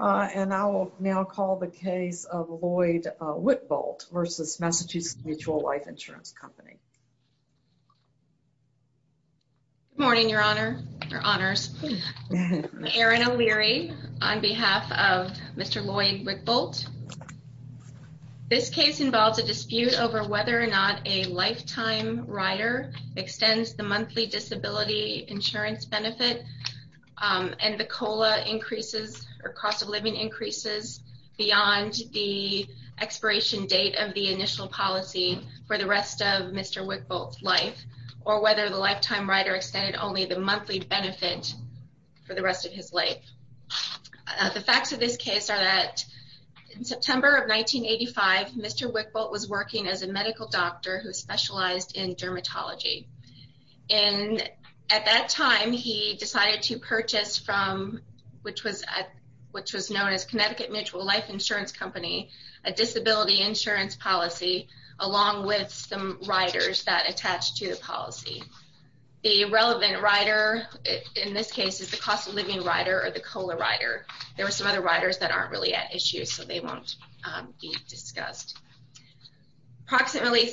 And I will now call the case of Lloyd Wickboldt v. Massachusetts Mutual Life Insurance Company. Good morning, Your Honors. I'm Erin O'Leary on behalf of Mr. Lloyd Wickboldt. This case involves a dispute over whether or not a lifetime rider extends the monthly disability insurance benefit and the COLA increases or cost of living increases beyond the expiration date of the initial policy for the rest of Mr. Wickboldt's life, or whether the lifetime rider extended only the monthly benefit for the rest of his life. The facts of this case are that in September of 1985, Mr. Wickboldt was working as a medical doctor who specialized in dermatology. And at that time, he decided to purchase from, which was known as Connecticut Mutual Life Insurance Company, a disability insurance policy along with some riders that attached to the policy. The relevant rider in this case is the cost of living rider or the COLA rider. There were some other riders that aren't really at issue, so they won't be discussed. Approximately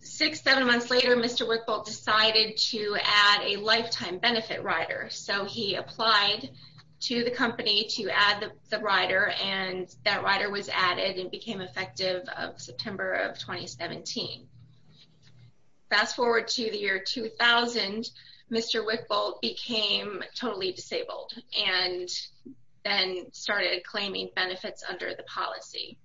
six, seven months later, Mr. Wickboldt decided to add a lifetime benefit rider. So he applied to the company to add the rider, and that rider was added and became effective September of 2017. Fast forward to the year 2000, Mr. Wickboldt became totally disabled and then started claiming benefits under the policy.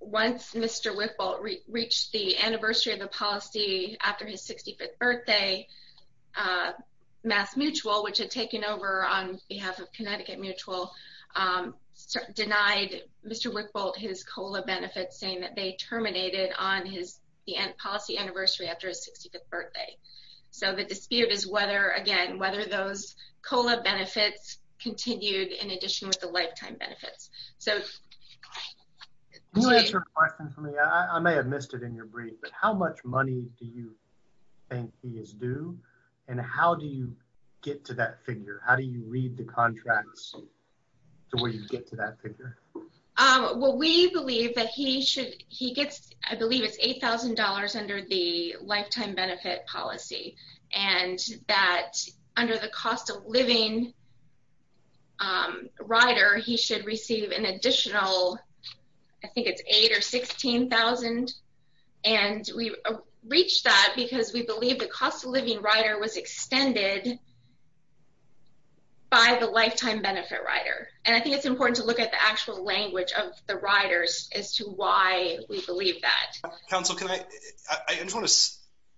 Once Mr. Wickboldt reached the anniversary of the policy after his 65th birthday, Mass Mutual, which had taken over on behalf of Connecticut Mutual, denied Mr. Wickboldt his COLA benefits, saying that they terminated on his policy anniversary after his 65th birthday. So the dispute is whether, again, whether those COLA benefits continued in addition with the lifetime benefits. Can you answer a question for me? I may have missed it in your brief, but how much money do you think he is due, and how do you get to that figure? How do you read the contracts to where you get to that figure? Well, we believe that he should, he gets, I believe it's $8,000 under the lifetime benefit policy, and that under the cost-of-living rider, he should receive an additional, I think it's $8,000 or $16,000. And we reached that because we believe the cost-of-living rider was extended by the lifetime benefit rider. And I think it's important to look at the actual language of the riders as to why we believe that. Counsel, can I, I just want to,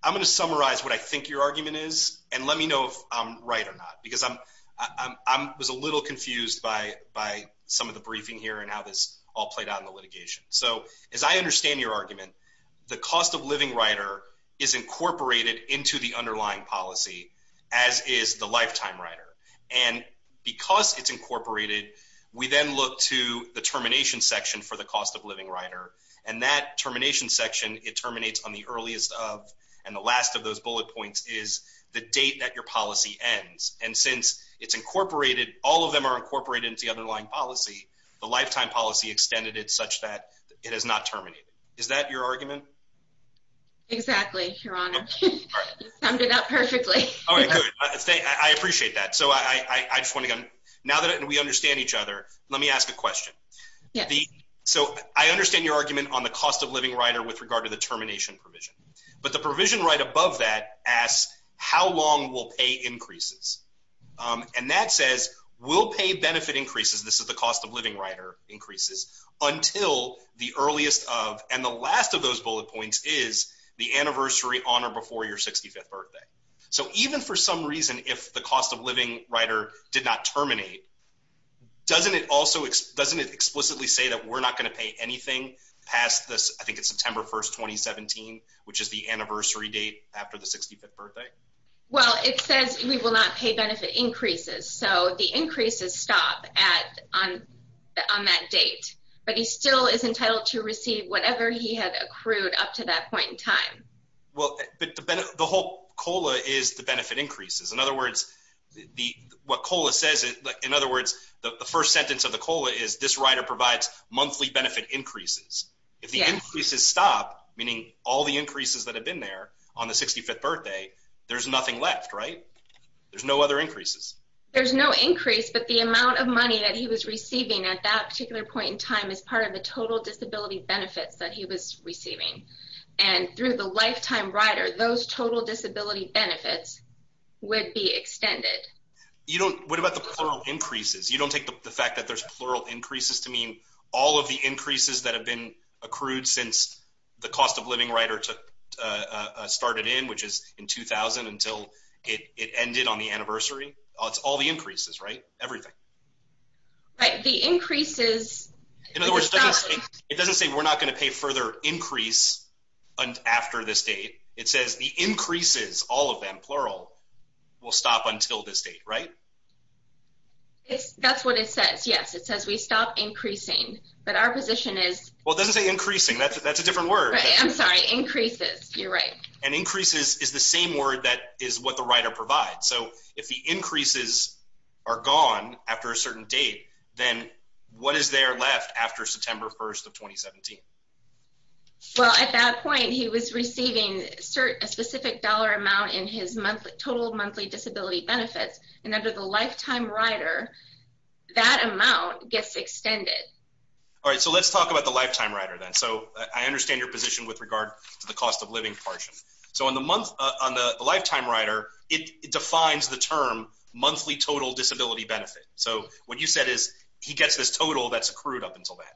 I'm going to summarize what I think your argument is, and let me know if I'm right or not, because I'm, I was a little confused by some of the briefing here and how this all played out in the litigation. So as I understand your argument, the cost-of-living rider is incorporated into the underlying policy, as is the lifetime rider. And because it's incorporated, we then look to the termination section for the cost-of-living rider, and that termination section, it terminates on the earliest of, and the last of those bullet points is the date that your policy ends. And since it's incorporated, all of them are incorporated into the underlying policy, the lifetime policy extended it such that it has not terminated. Is that your argument? Exactly, Your Honor. You summed it up perfectly. All right, good. I appreciate that. So I just want to, now that we understand each other, let me ask a question. So I understand your argument on the cost-of-living rider with regard to the termination provision, but the provision right above that asks, how long will pay increases? And that says, will pay benefit increases, this is the cost-of-living rider increases, until the earliest of, and the last of those bullet points is the anniversary on or before your 65th birthday. So even for some reason, if the cost-of-living rider did not terminate, doesn't it also, doesn't it explicitly say that we're not going to pay anything past the, I think it's September 1st, 2017, which is the anniversary date after the 65th birthday? Well, it says we will not pay benefit increases, so the increases stop at, on that date. But he still is entitled to receive whatever he had accrued up to that point in time. Well, but the whole COLA is the benefit increases. In other words, what COLA says, in other words, the first sentence of the COLA is, this rider provides monthly benefit increases. If the increases stop, meaning all the increases that have been there on the 65th birthday, there's nothing left, right? There's no other increases. There's no increase, but the amount of money that he was receiving at that particular point in time is part of the total disability benefits that he was receiving. And through the lifetime rider, those total disability benefits would be extended. You don't, what about the plural increases? You don't take the fact that there's plural increases to mean all of the increases that have been accrued since the cost-of-living rider started in, which is in 2000 until it ended on the anniversary? It's all the increases, right? Everything. Right, the increases. In other words, it doesn't say we're not going to pay further increase after this date. It says the increases, all of them, plural, will stop until this date, right? That's what it says, yes. It says we stop increasing, but our position is. Well, it doesn't say increasing. That's a different word. I'm sorry, increases. You're right. And increases is the same word that is what the rider provides. So if the increases are gone after a certain date, then what is there left after September 1st of 2017? Well, at that point, he was receiving a specific dollar amount in his total monthly disability benefits. And under the lifetime rider, that amount gets extended. All right, so let's talk about the lifetime rider then. So I understand your position with regard to the cost-of-living portion. So on the lifetime rider, it defines the term monthly total disability benefit. So what you said is he gets this total that's accrued up until then.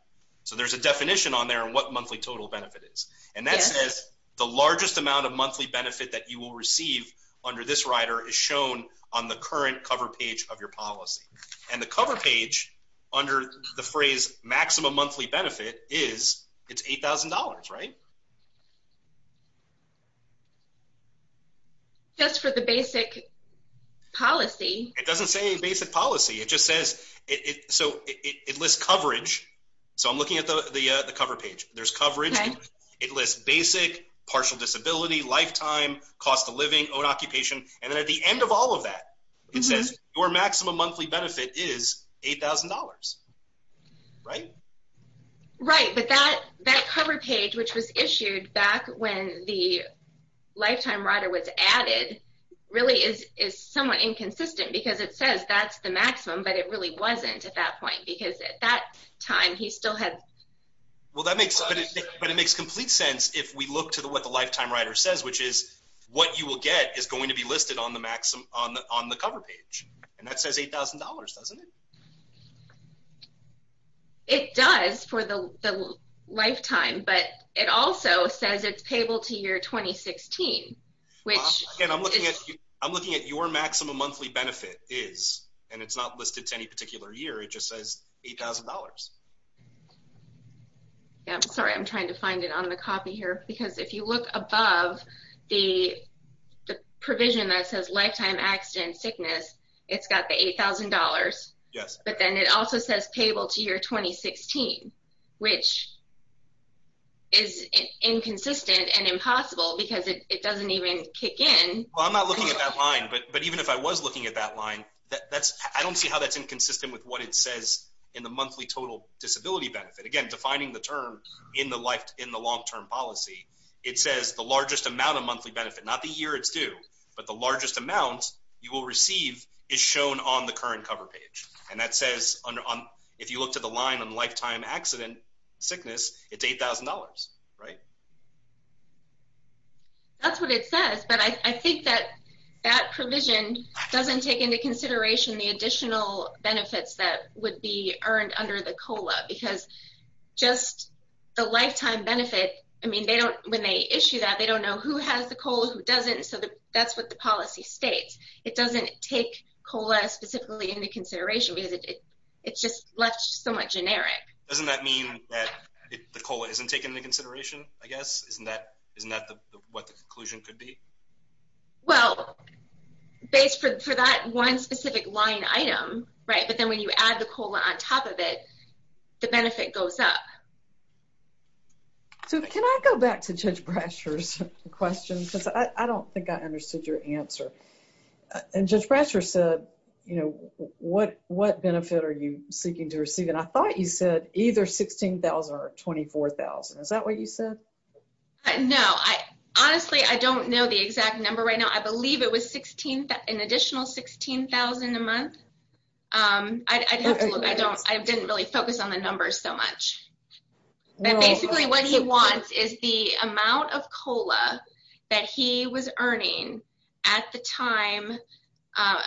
So there's a definition on there on what monthly total benefit is. And that says the largest amount of monthly benefit that you will receive under this rider is shown on the current cover page of your policy. And the cover page under the phrase maximum monthly benefit is it's $8,000, right? Just for the basic policy. It doesn't say basic policy. It just says – so it lists coverage. So I'm looking at the cover page. There's coverage. It lists basic, partial disability, lifetime, cost-of-living, own occupation. And then at the end of all of that, it says your maximum monthly benefit is $8,000, right? Right, but that cover page which was issued back when the lifetime rider was added really is somewhat inconsistent because it says that's the maximum, but it really wasn't at that point because at that time, he still had – Well, that makes – but it makes complete sense if we look to what the lifetime rider says, which is what you will get is going to be listed on the cover page. And that says $8,000, doesn't it? It does for the lifetime, but it also says it's payable to year 2016, which is – Again, I'm looking at your maximum monthly benefit is, and it's not listed to any particular year. It just says $8,000. I'm sorry. I'm trying to find it on the copy here because if you look above the provision that says lifetime accident sickness, it's got the $8,000. Yes. But then it also says payable to year 2016, which is inconsistent and impossible because it doesn't even kick in. Well, I'm not looking at that line, but even if I was looking at that line, I don't see how that's inconsistent with what it says in the monthly total disability benefit. Again, defining the term in the long-term policy, it says the largest amount of monthly benefit, not the year it's due, but the largest amount you will receive is shown on the current cover page. And that says if you look to the line on lifetime accident sickness, it's $8,000, right? That's what it says, but I think that that provision doesn't take into consideration the additional benefits that would be earned under the COLA because just the lifetime benefit, I mean, when they issue that, they don't know who has the COLA, who doesn't, so that's what the policy states. It doesn't take COLA specifically into consideration because it's just left somewhat generic. Doesn't that mean that the COLA isn't taken into consideration, I guess? Isn't that what the conclusion could be? Well, based for that one specific line item, right, but then when you add the COLA on top of it, the benefit goes up. So can I go back to Judge Brasher's question because I don't think I understood your answer. And Judge Brasher said, you know, what benefit are you seeking to receive? And I thought you said either $16,000 or $24,000. Is that what you said? No. Honestly, I don't know the exact number right now. I believe it was an additional $16,000 a month. I didn't really focus on the numbers so much. But basically what he wants is the amount of COLA that he was earning at the time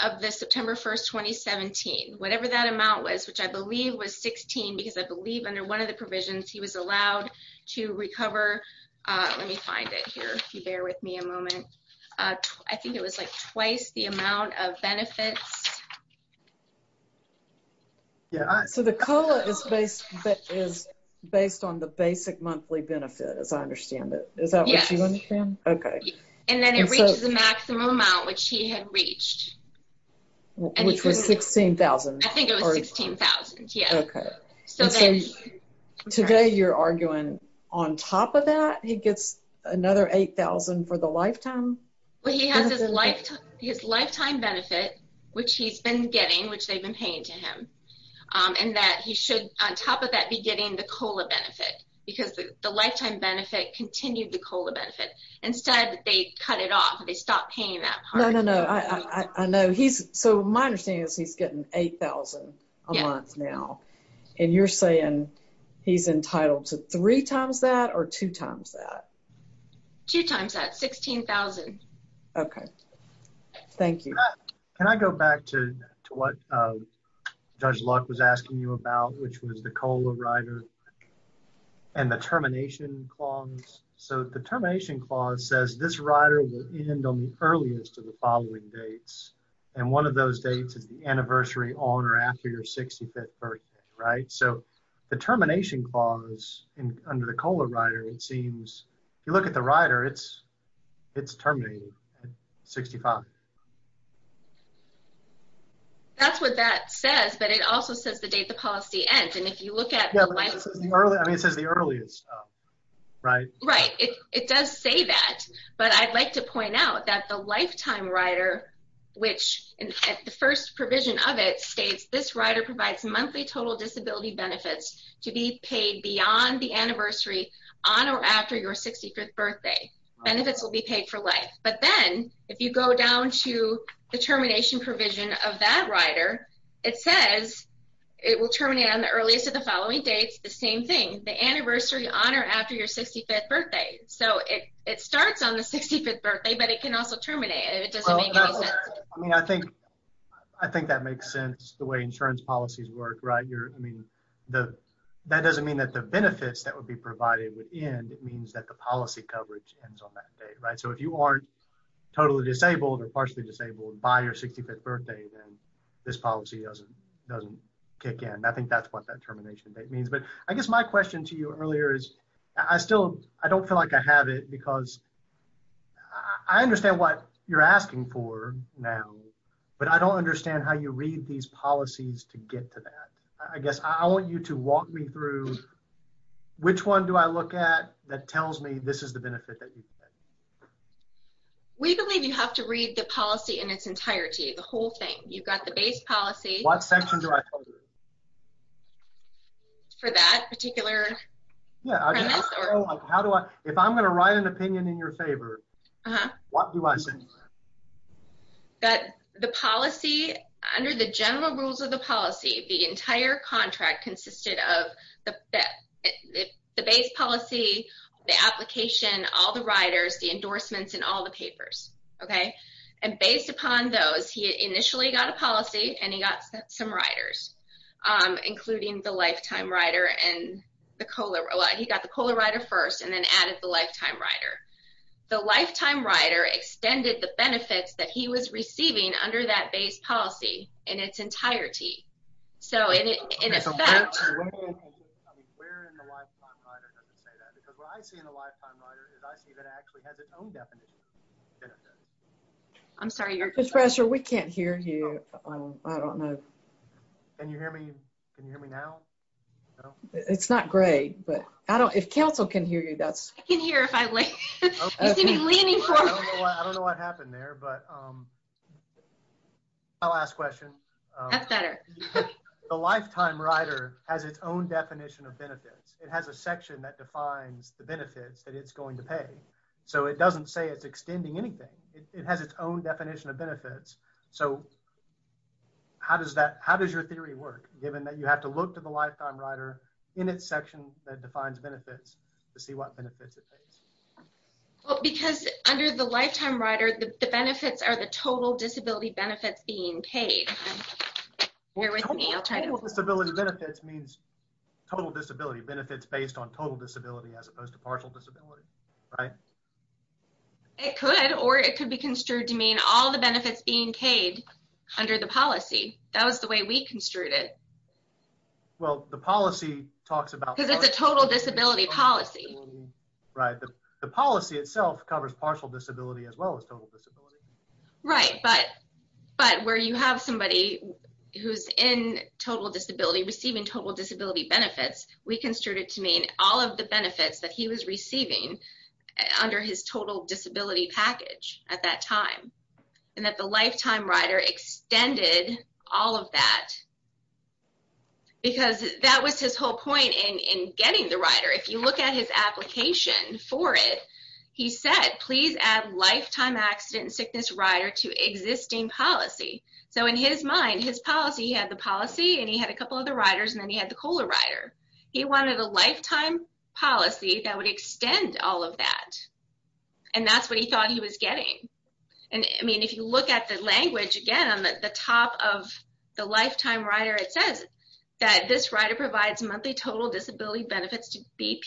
of the September 1, 2017, whatever that amount was, which I believe was $16,000 because I believe under one of the provisions he was allowed to recover. Let me find it here if you bear with me a moment. I think it was like twice the amount of benefits. So the COLA is based on the basic monthly benefit as I understand it. Is that what you understand? Yes. Okay. And then it reaches the maximum amount which he had reached. Which was $16,000. I think it was $16,000. Okay. And so today you're arguing on top of that he gets another $8,000 for the lifetime? Well, he has his lifetime benefit, which he's been getting, which they've been paying to him, and that he should on top of that be getting the COLA benefit because the lifetime benefit continued the COLA benefit. Instead, they cut it off. They stopped paying that part. No, no, no. I know. So my understanding is he's getting $8,000 a month now. And you're saying he's entitled to three times that or two times that? Two times that, $16,000. Okay. Thank you. Can I go back to what Judge Luck was asking you about, which was the COLA rider and the termination clause? So the termination clause says this rider will end on the earliest of the following dates. And one of those dates is the anniversary on or after your 65th birthday, right? So the termination clause under the COLA rider, it seems, if you look at the rider, it's terminated at 65. That's what that says. But it also says the date the policy ends. And if you look at the license. I mean, it says the earliest, right? Right. It does say that. But I'd like to point out that the lifetime rider, which the first provision of it states, this rider provides monthly total disability benefits to be paid beyond the anniversary on or after your 65th birthday. Benefits will be paid for life. But then if you go down to the termination provision of that rider, it says it will terminate on the earliest of the following dates. The same thing. The anniversary on or after your 65th birthday. So it starts on the 65th birthday, but it can also terminate. It doesn't make any sense. I mean, I think that makes sense the way insurance policies work. Right. I mean, that doesn't mean that the benefits that would be provided would end. It means that the policy coverage ends on that date. Right. So if you aren't totally disabled or partially disabled by your 65th birthday, then this policy doesn't kick in. I think that's what that termination date means. But I guess my question to you earlier is I still don't feel like I have it because I understand what you're asking for now, but I don't understand how you read these policies to get to that. I guess I want you to walk me through which one do I look at that tells me this is the benefit that you get? We believe you have to read the policy in its entirety, the whole thing. You've got the base policy. What section do I tell you? For that particular premise? Yeah. If I'm going to write an opinion in your favor, what do I say? That the policy, under the general rules of the policy, the entire contract consisted of the base policy, the application, all the riders, the endorsements, and all the papers. Okay? And based upon those, he initially got a policy and he got some riders, including the lifetime rider and the COLA rider. He got the COLA rider first and then added the lifetime rider. The lifetime rider extended the benefits that he was receiving under that base policy in its entirety. Where in the lifetime rider does it say that? Because what I see in the lifetime rider is I see that it actually has its own definition. I'm sorry. Commissioner, we can't hear you. I don't know. Can you hear me? Can you hear me now? It's not great, but if council can hear you. I can hear if you see me leaning forward. I don't know what happened there, but I'll ask questions. That's better. The lifetime rider has its own definition of benefits. It has a section that defines the benefits that it's going to pay. So, it doesn't say it's extending anything. It has its own definition of benefits. So, how does your theory work, given that you have to look to the lifetime rider in its section that defines benefits to see what benefits it pays? Because under the lifetime rider, the benefits are the total disability benefits being paid. Bear with me. Total disability benefits means total disability benefits based on total disability as opposed to partial disability, right? It could, or it could be construed to mean all the benefits being paid under the policy. That was the way we construed it. Well, the policy talks about... Because it's a total disability policy. Right. The policy itself covers partial disability as well as total disability. Right, but where you have somebody who's in total disability receiving total disability benefits, we construed it to mean all of the benefits that he was receiving under his total disability package at that time. And that the lifetime rider extended all of that because that was his whole point in getting the rider. If you look at his application for it, he said, please add lifetime accident and sickness rider to existing policy. So, in his mind, his policy had the policy, and he had a couple of the riders, and then he had the COLA rider. He wanted a lifetime policy that would extend all of that. And that's what he thought he was getting. I mean, if you look at the language, again, on the top of the lifetime rider, it says that this rider provides monthly total disability benefits to be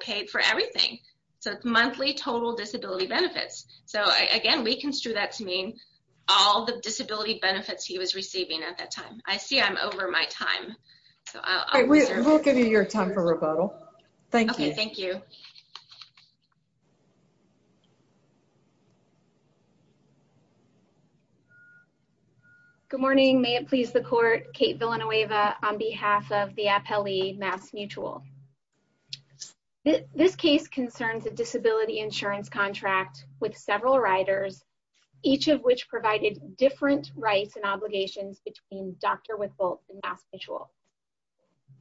paid for everything. So, monthly total disability benefits. So, again, we construed that to mean all the disability benefits he was receiving at that time. I see I'm over my time. We'll give you your time for rebuttal. Thank you. Okay, thank you. Good morning. May it please the court. Kate Villanueva on behalf of the Apelli Mass Mutual. This case concerns a disability insurance contract with several riders, each of which provided different rights and obligations between Dr. Wickbold and Mass Mutual.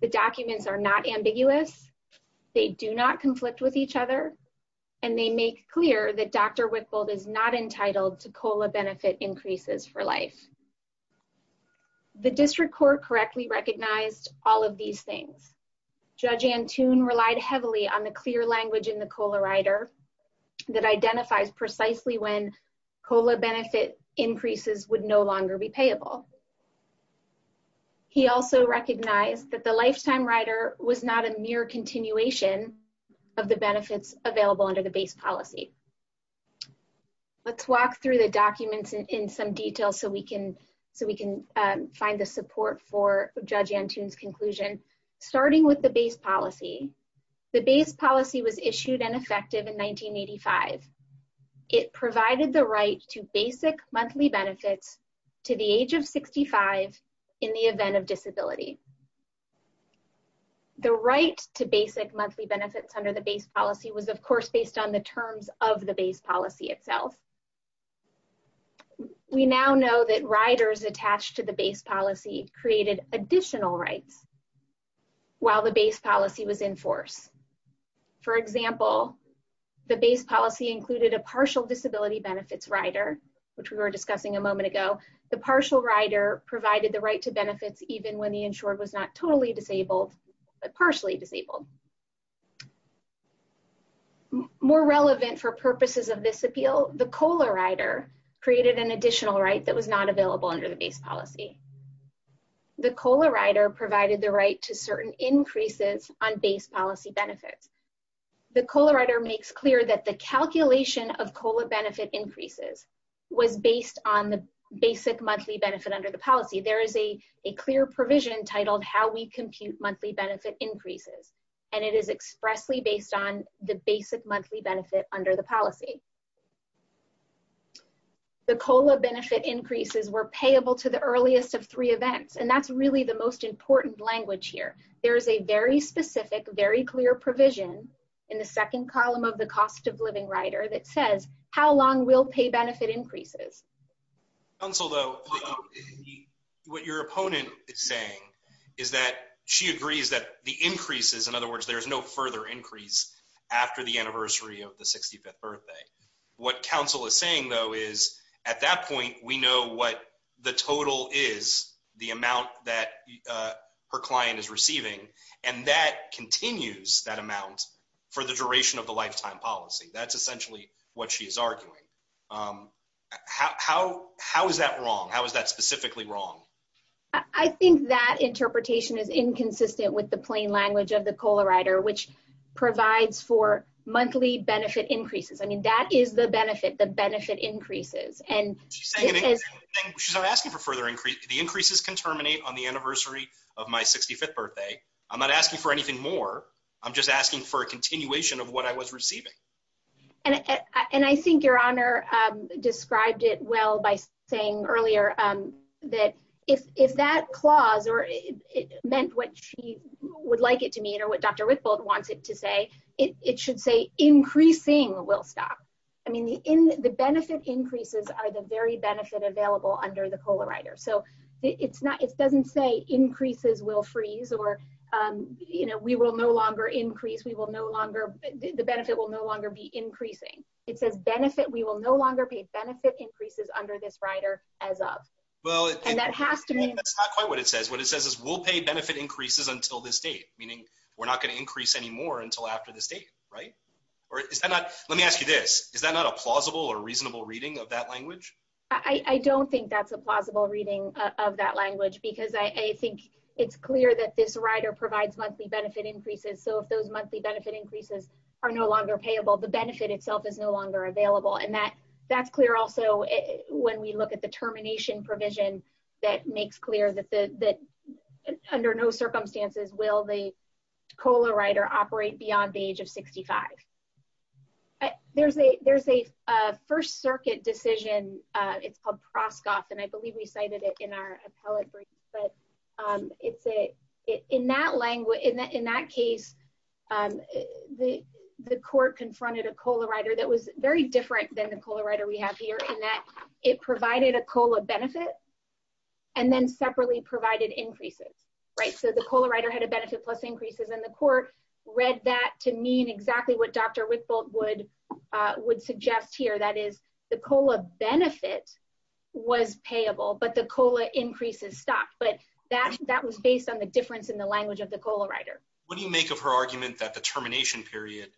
The documents are not ambiguous. They do not conflict with each other. And they make clear that Dr. Wickbold is not entitled to COLA benefit increases for life. The district court correctly recognized all of these things. Judge Antoon relied heavily on the clear language in the COLA rider that identifies precisely when COLA benefit increases would no longer be payable. He also recognized that the lifetime rider was not a mere continuation of the benefits available under the base policy. Let's walk through the documents in some detail so we can find the support for Judge Antoon's conclusion. Starting with the base policy. The base policy was issued and effective in 1985. It provided the right to basic monthly benefits to the age of 65 in the event of disability. The right to basic monthly benefits under the base policy was, of course, based on the terms of the base policy itself. We now know that riders attached to the base policy created additional rights while the base policy was in force. For example, the base policy included a partial disability benefits rider, which we were discussing a moment ago. The partial rider provided the right to benefits even when the insured was not totally disabled but partially disabled. More relevant for purposes of this appeal, the COLA rider created an additional right that was not available under the base policy. The COLA rider provided the right to certain increases on base policy benefits. The COLA rider makes clear that the calculation of COLA benefit increases was based on the basic monthly benefit under the policy. There is a clear provision titled how we compute monthly benefit increases, and it is expressly based on the basic monthly benefit under the policy. The COLA benefit increases were payable to the earliest of three events, and that's really the most important language here. There is a very specific, very clear provision in the second column of the cost of living rider that says how long we'll pay benefit increases. Counsel, though, what your opponent is saying is that she agrees that the increases, in other words, there's no further increase after the anniversary of the 65th birthday. What counsel is saying, though, is at that point, we know what the total is, the amount that her client is receiving, and that continues that amount for the duration of the lifetime policy. That's essentially what she's arguing. How is that wrong? How is that specifically wrong? I think that interpretation is inconsistent with the plain language of the COLA rider, which provides for monthly benefit increases. I mean, that is the benefit, the benefit increases. She's not asking for further increase. The increases can terminate on the anniversary of my 65th birthday. I'm not asking for anything more. I'm just asking for a continuation of what I was receiving. And I think your honor described it well by saying earlier that if that clause, or it meant what she would like it to mean, or what Dr. Rickbolt wants it to say, it should say increasing will stop. I mean, the benefit increases are the very benefit available under the COLA rider. So it doesn't say increases will freeze, or we will no longer increase, we will no longer, the benefit will no longer be increasing. It says benefit, we will no longer pay benefit increases under this rider as of. And that has to mean. That's not quite what it says. What it says is we'll pay benefit increases until this date, meaning we're not going to increase anymore until after this date, right? Or is that not, let me ask you this, is that not a plausible or reasonable reading of that language? I don't think that's a plausible reading of that language because I think it's clear that this rider provides monthly benefit increases. So if those monthly benefit increases are no longer payable, the benefit itself is no longer available. And that's clear also when we look at the termination provision that makes clear that under no circumstances will the COLA rider operate beyond the age of 65. There's a, there's a First Circuit decision. It's called Proskoff, and I believe we cited it in our appellate brief. But it's a, in that language, in that case, the court confronted a COLA rider that was very different than the COLA rider we have here in that it provided a COLA benefit and then separately provided increases, right? So the COLA rider had a benefit plus increases, and the court read that to mean exactly what Dr. Wickbolt would suggest here. That is, the COLA benefit was payable, but the COLA increases stopped. But that was based on the difference in the language of the COLA rider. What do you make of her argument that the termination period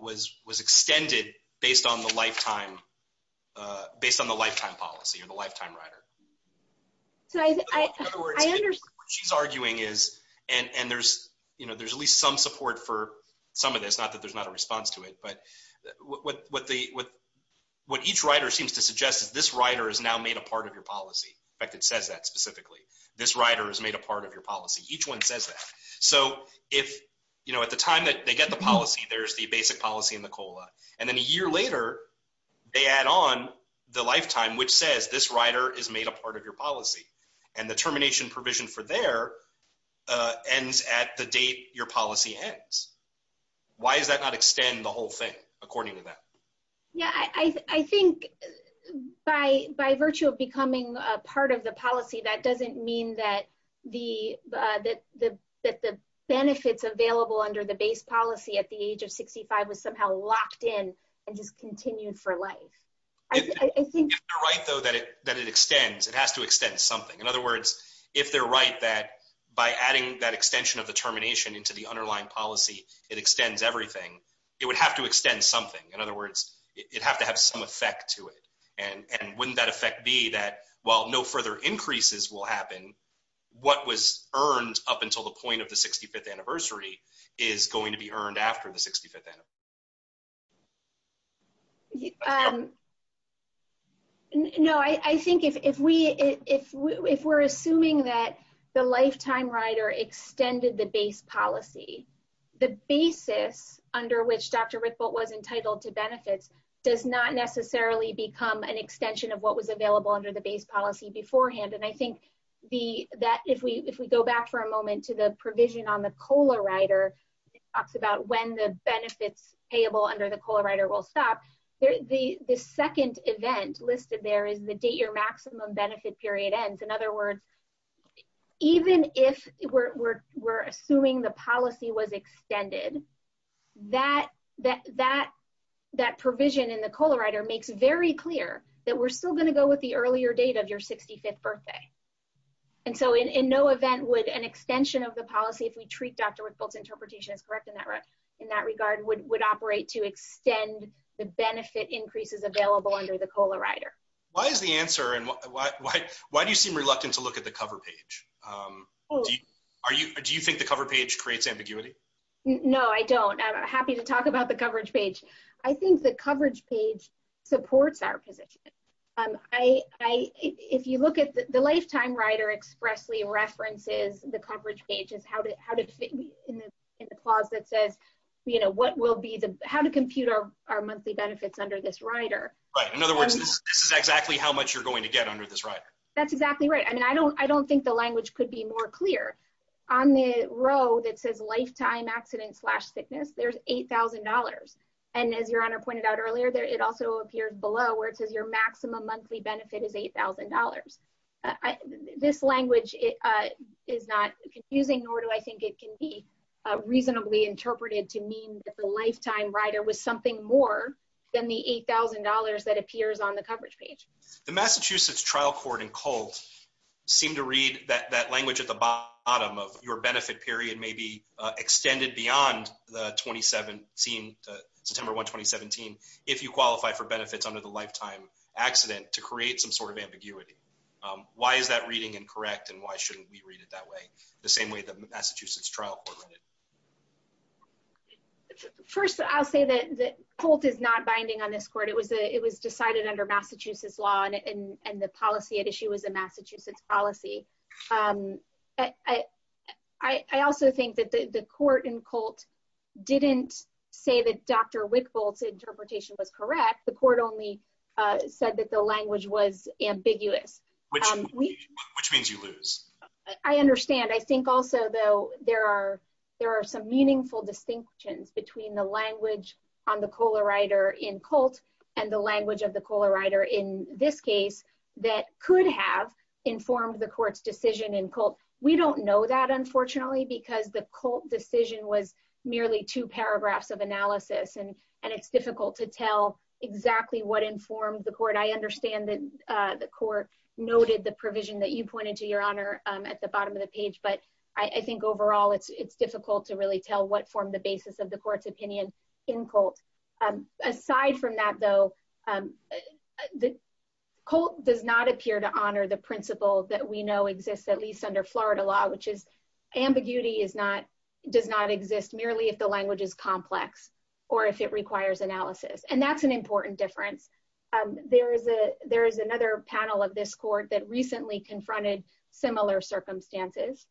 was extended based on the lifetime, based on the lifetime policy or the lifetime rider? So I understand. What she's arguing is, and there's, you know, there's at least some support for some of this, not that there's not a response to it. But what the, what each rider seems to suggest is this rider is now made a part of your policy. In fact, it says that specifically. This rider is made a part of your policy. Each one says that. So if, you know, at the time that they get the policy, there's the basic policy in the COLA. And then a year later, they add on the lifetime, which says this rider is made a part of your policy. And the termination provision for there ends at the date your policy ends. Why does that not extend the whole thing, according to that? Yeah, I think by virtue of becoming a part of the policy, that doesn't mean that the benefits available under the base policy at the age of 65 was somehow locked in and just continued for life. If they're right, though, that it extends, it has to extend something. In other words, if they're right that by adding that extension of the termination into the underlying policy, it extends everything, it would have to extend something. In other words, it'd have to have some effect to it. And wouldn't that effect be that while no further increases will happen, what was earned up until the point of the 65th anniversary is going to be earned after the 65th anniversary? No, I think if we're assuming that the lifetime rider extended the base policy, the basis under which Dr. Rickbolt was entitled to benefits does not necessarily become an extension of what was available under the base policy beforehand. And I think that if we go back for a moment to the provision on the COLA rider that talks about when the benefits payable under the COLA rider will stop, the second event listed there is the date your maximum benefit period ends. In other words, even if we're assuming the policy was extended, that provision in the COLA rider makes very clear that we're still going to go with the earlier date of your 65th birthday. And so in no event would an extension of the policy, if we treat Dr. Rickbolt's interpretation as correct in that regard, would operate to extend the benefit increases available under the COLA rider. Why is the answer and why do you seem reluctant to look at the cover page? Do you think the cover page creates ambiguity? No, I don't. I'm happy to talk about the coverage page. I think the coverage page supports our position. If you look at the lifetime rider expressly references the coverage page as how to fit in the clause that says how to compute our monthly benefits under this rider. In other words, this is exactly how much you're going to get under this rider. That's exactly right. I mean, I don't think the language could be more clear. On the row that says lifetime accident slash thickness, there's $8,000. And as Your Honor pointed out earlier, it also appears below where it says your maximum monthly benefit is $8,000. This language is not confusing, nor do I think it can be reasonably interpreted to mean that the lifetime rider was something more than the $8,000 that appears on the coverage page. The Massachusetts trial court in Colt seemed to read that language at the bottom of your benefit period may be extended beyond the September 1, 2017 if you qualify for benefits under the lifetime accident to create some sort of ambiguity. Why is that reading incorrect and why shouldn't we read it that way, the same way the Massachusetts trial court read it? First, I'll say that Colt is not binding on this court. It was decided under Massachusetts law, and the policy at issue was a Massachusetts policy. I also think that the court in Colt didn't say that Dr. Wickbolt's interpretation was correct. The court only said that the language was ambiguous. Which means you lose. I understand. I think also, though, there are some meaningful distinctions between the language on the COLA rider in Colt and the language of the COLA rider in this case that could have informed the court's decision in Colt. We don't know that, unfortunately, because the Colt decision was merely two paragraphs of analysis, and it's difficult to tell exactly what informed the court. I understand that the court noted the provision that you pointed to, Your Honor, at the bottom of the page, but I think overall it's difficult to really tell what formed the basis of the court's opinion in Colt. Aside from that, though, Colt does not appear to honor the principle that we know exists at least under Florida law, which is ambiguity does not exist merely if the language is complex or if it requires analysis. And that's an important difference. There is another panel of this court that recently confronted similar circumstances,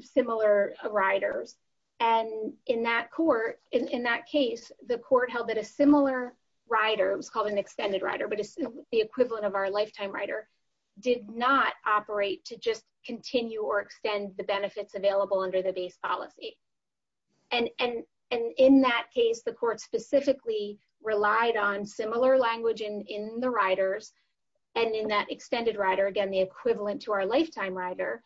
similar riders. And in that court, in that case, the court held that a similar rider, it was called an extended rider, but the equivalent of our lifetime rider, did not operate to just continue or extend the benefits available under the base policy. And in that case, the court specifically relied on similar language in the riders and in that extended rider, again, the equivalent to our lifetime rider,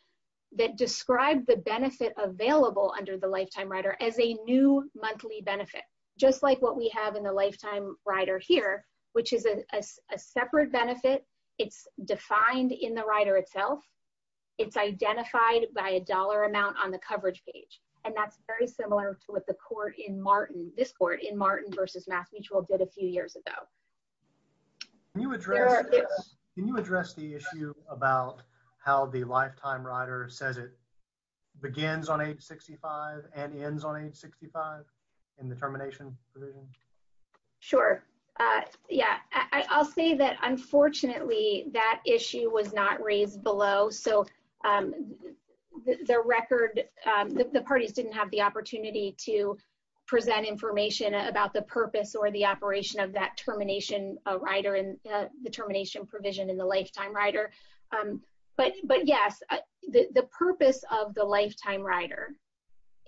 that described the benefit available under the lifetime rider as a new monthly benefit, just like what we have in the lifetime rider here, which is a separate benefit. It's defined in the rider itself. It's identified by a dollar amount on the coverage page. And that's very similar to what the court in Martin, this court in Martin versus Mass Mutual, did a few years ago. Can you address the issue about how the lifetime rider says it begins on age 65 and ends on age 65 in the termination provision? Sure. Yeah, I'll say that, unfortunately, that issue was not raised below. So the record, the parties didn't have the opportunity to present information about the purpose or the operation of that termination rider and the termination provision in the lifetime rider. But yes, the purpose of the lifetime rider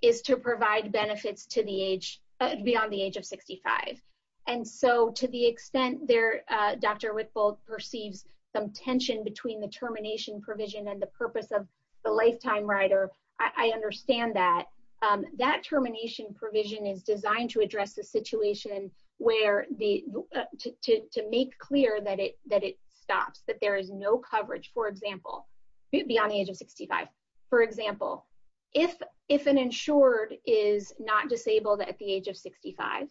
is to provide benefits to the age beyond the age of 65. And so to the extent there, Dr. Whitfield perceives some tension between the termination provision and the purpose of the lifetime rider. I understand that. That termination provision is designed to address the situation where the, to make clear that it stops, that there is no coverage, for example, beyond the age of 65. For example, if an insured is not disabled at the age of 65,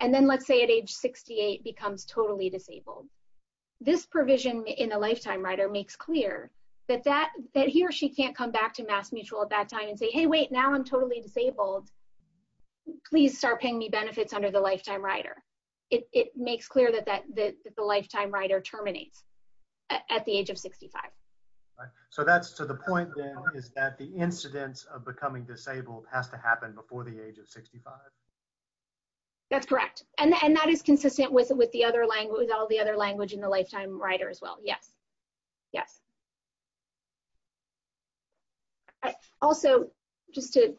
and then let's say at age 68 becomes totally disabled. This provision in the lifetime rider makes clear that he or she can't come back to Mass Mutual at that time and say, hey, wait, now I'm totally disabled. Please start paying me benefits under the lifetime rider. It makes clear that the lifetime rider terminates at the age of 65. So that's to the point then is that the incidence of becoming disabled has to happen before the age of 65. That's correct. And that is consistent with all the other language in the lifetime rider as well. Yes. Yes. Also, just to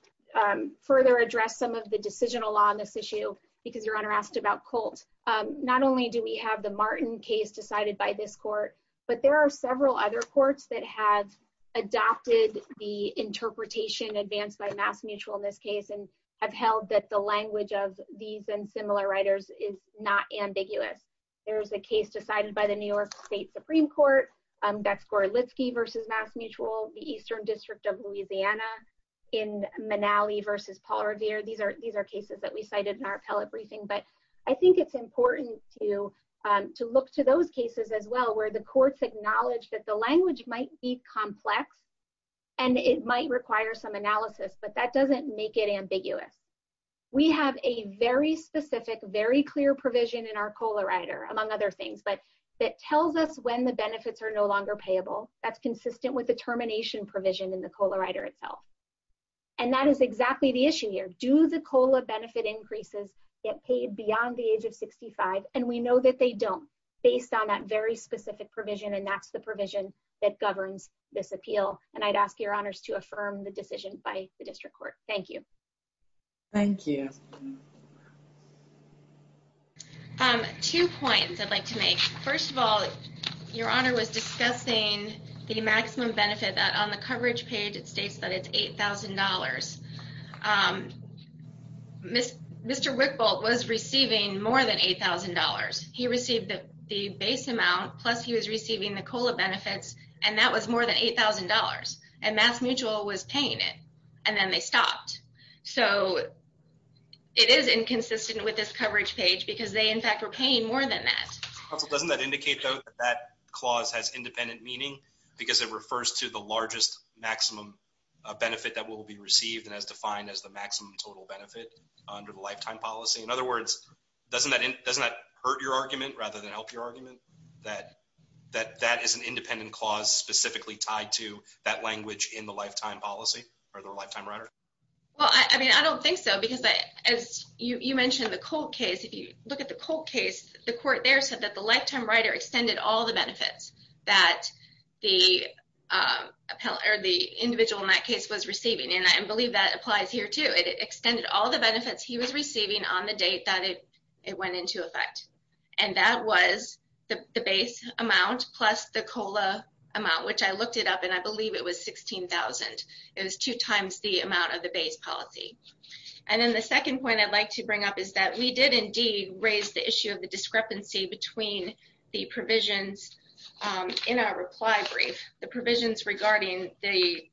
further address some of the decisional law on this issue, because Your Honor asked about Colt, not only do we have the Martin case decided by this court, but there are several other courts that have adopted the interpretation advanced by Mass Mutual in this case and have held that the language of these and similar riders is not ambiguous. There is a case decided by the New York State Supreme Court. That's Gorelitzky v. Mass Mutual, the Eastern District of Louisiana in Manali v. Paul Revere. These are cases that we cited in our appellate briefing. But I think it's important to look to those cases as well, where the courts acknowledge that the language might be complex and it might require some analysis, but that doesn't make it ambiguous. We have a very specific, very clear provision in our COLA rider, among other things, that tells us when the benefits are no longer payable. That's consistent with the termination provision in the COLA rider itself. And that is exactly the issue here. Do the COLA benefit increases get paid beyond the age of 65? And we know that they don't, based on that very specific provision. And that's the provision that governs this appeal. And I'd ask Your Honors to affirm the decision by the district court. Thank you. Thank you. Two points I'd like to make. First of all, Your Honor was discussing the maximum benefit on the coverage page. It states that it's $8,000. Mr. Wickbolt was receiving more than $8,000. He received the base amount, plus he was receiving the COLA benefits, and that was more than $8,000. And Mass Mutual was paying it. And then they stopped. So it is inconsistent with this coverage page because they, in fact, were paying more than that. Counsel, doesn't that indicate, though, that that clause has independent meaning because it refers to the largest maximum benefit that will be received and is defined as the maximum total benefit under the lifetime policy? In other words, doesn't that hurt your argument rather than help your argument that that is an independent clause specifically tied to that language in the lifetime policy or the lifetime rider? Well, I mean, I don't think so because, as you mentioned, the Colt case, if you look at the Colt case, the court there said that the lifetime rider extended all the benefits that the individual in that case was receiving, and I believe that applies here, too. It extended all the benefits he was receiving on the date that it went into effect, and that was the base amount plus the COLA amount, which I looked it up, and I believe it was $16,000. It was two times the amount of the base policy. And then the second point I'd like to bring up is that we did indeed raise the issue of the discrepancy between the provisions in our reply brief, the provisions regarding the,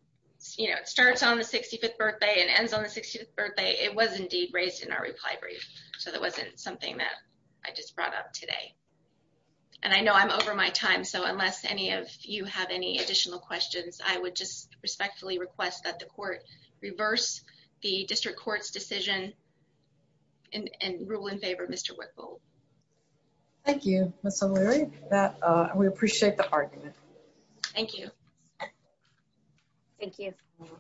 you know, it starts on the 65th birthday and ends on the 65th birthday. It was indeed raised in our reply brief, so that wasn't something that I just brought up today. And I know I'm over my time, so unless any of you have any additional questions, I would just respectfully request that the court reverse the district court's decision and rule in favor of Mr. Wickle. Thank you, Ms. O'Leary. We appreciate the argument. Thank you. Thank you.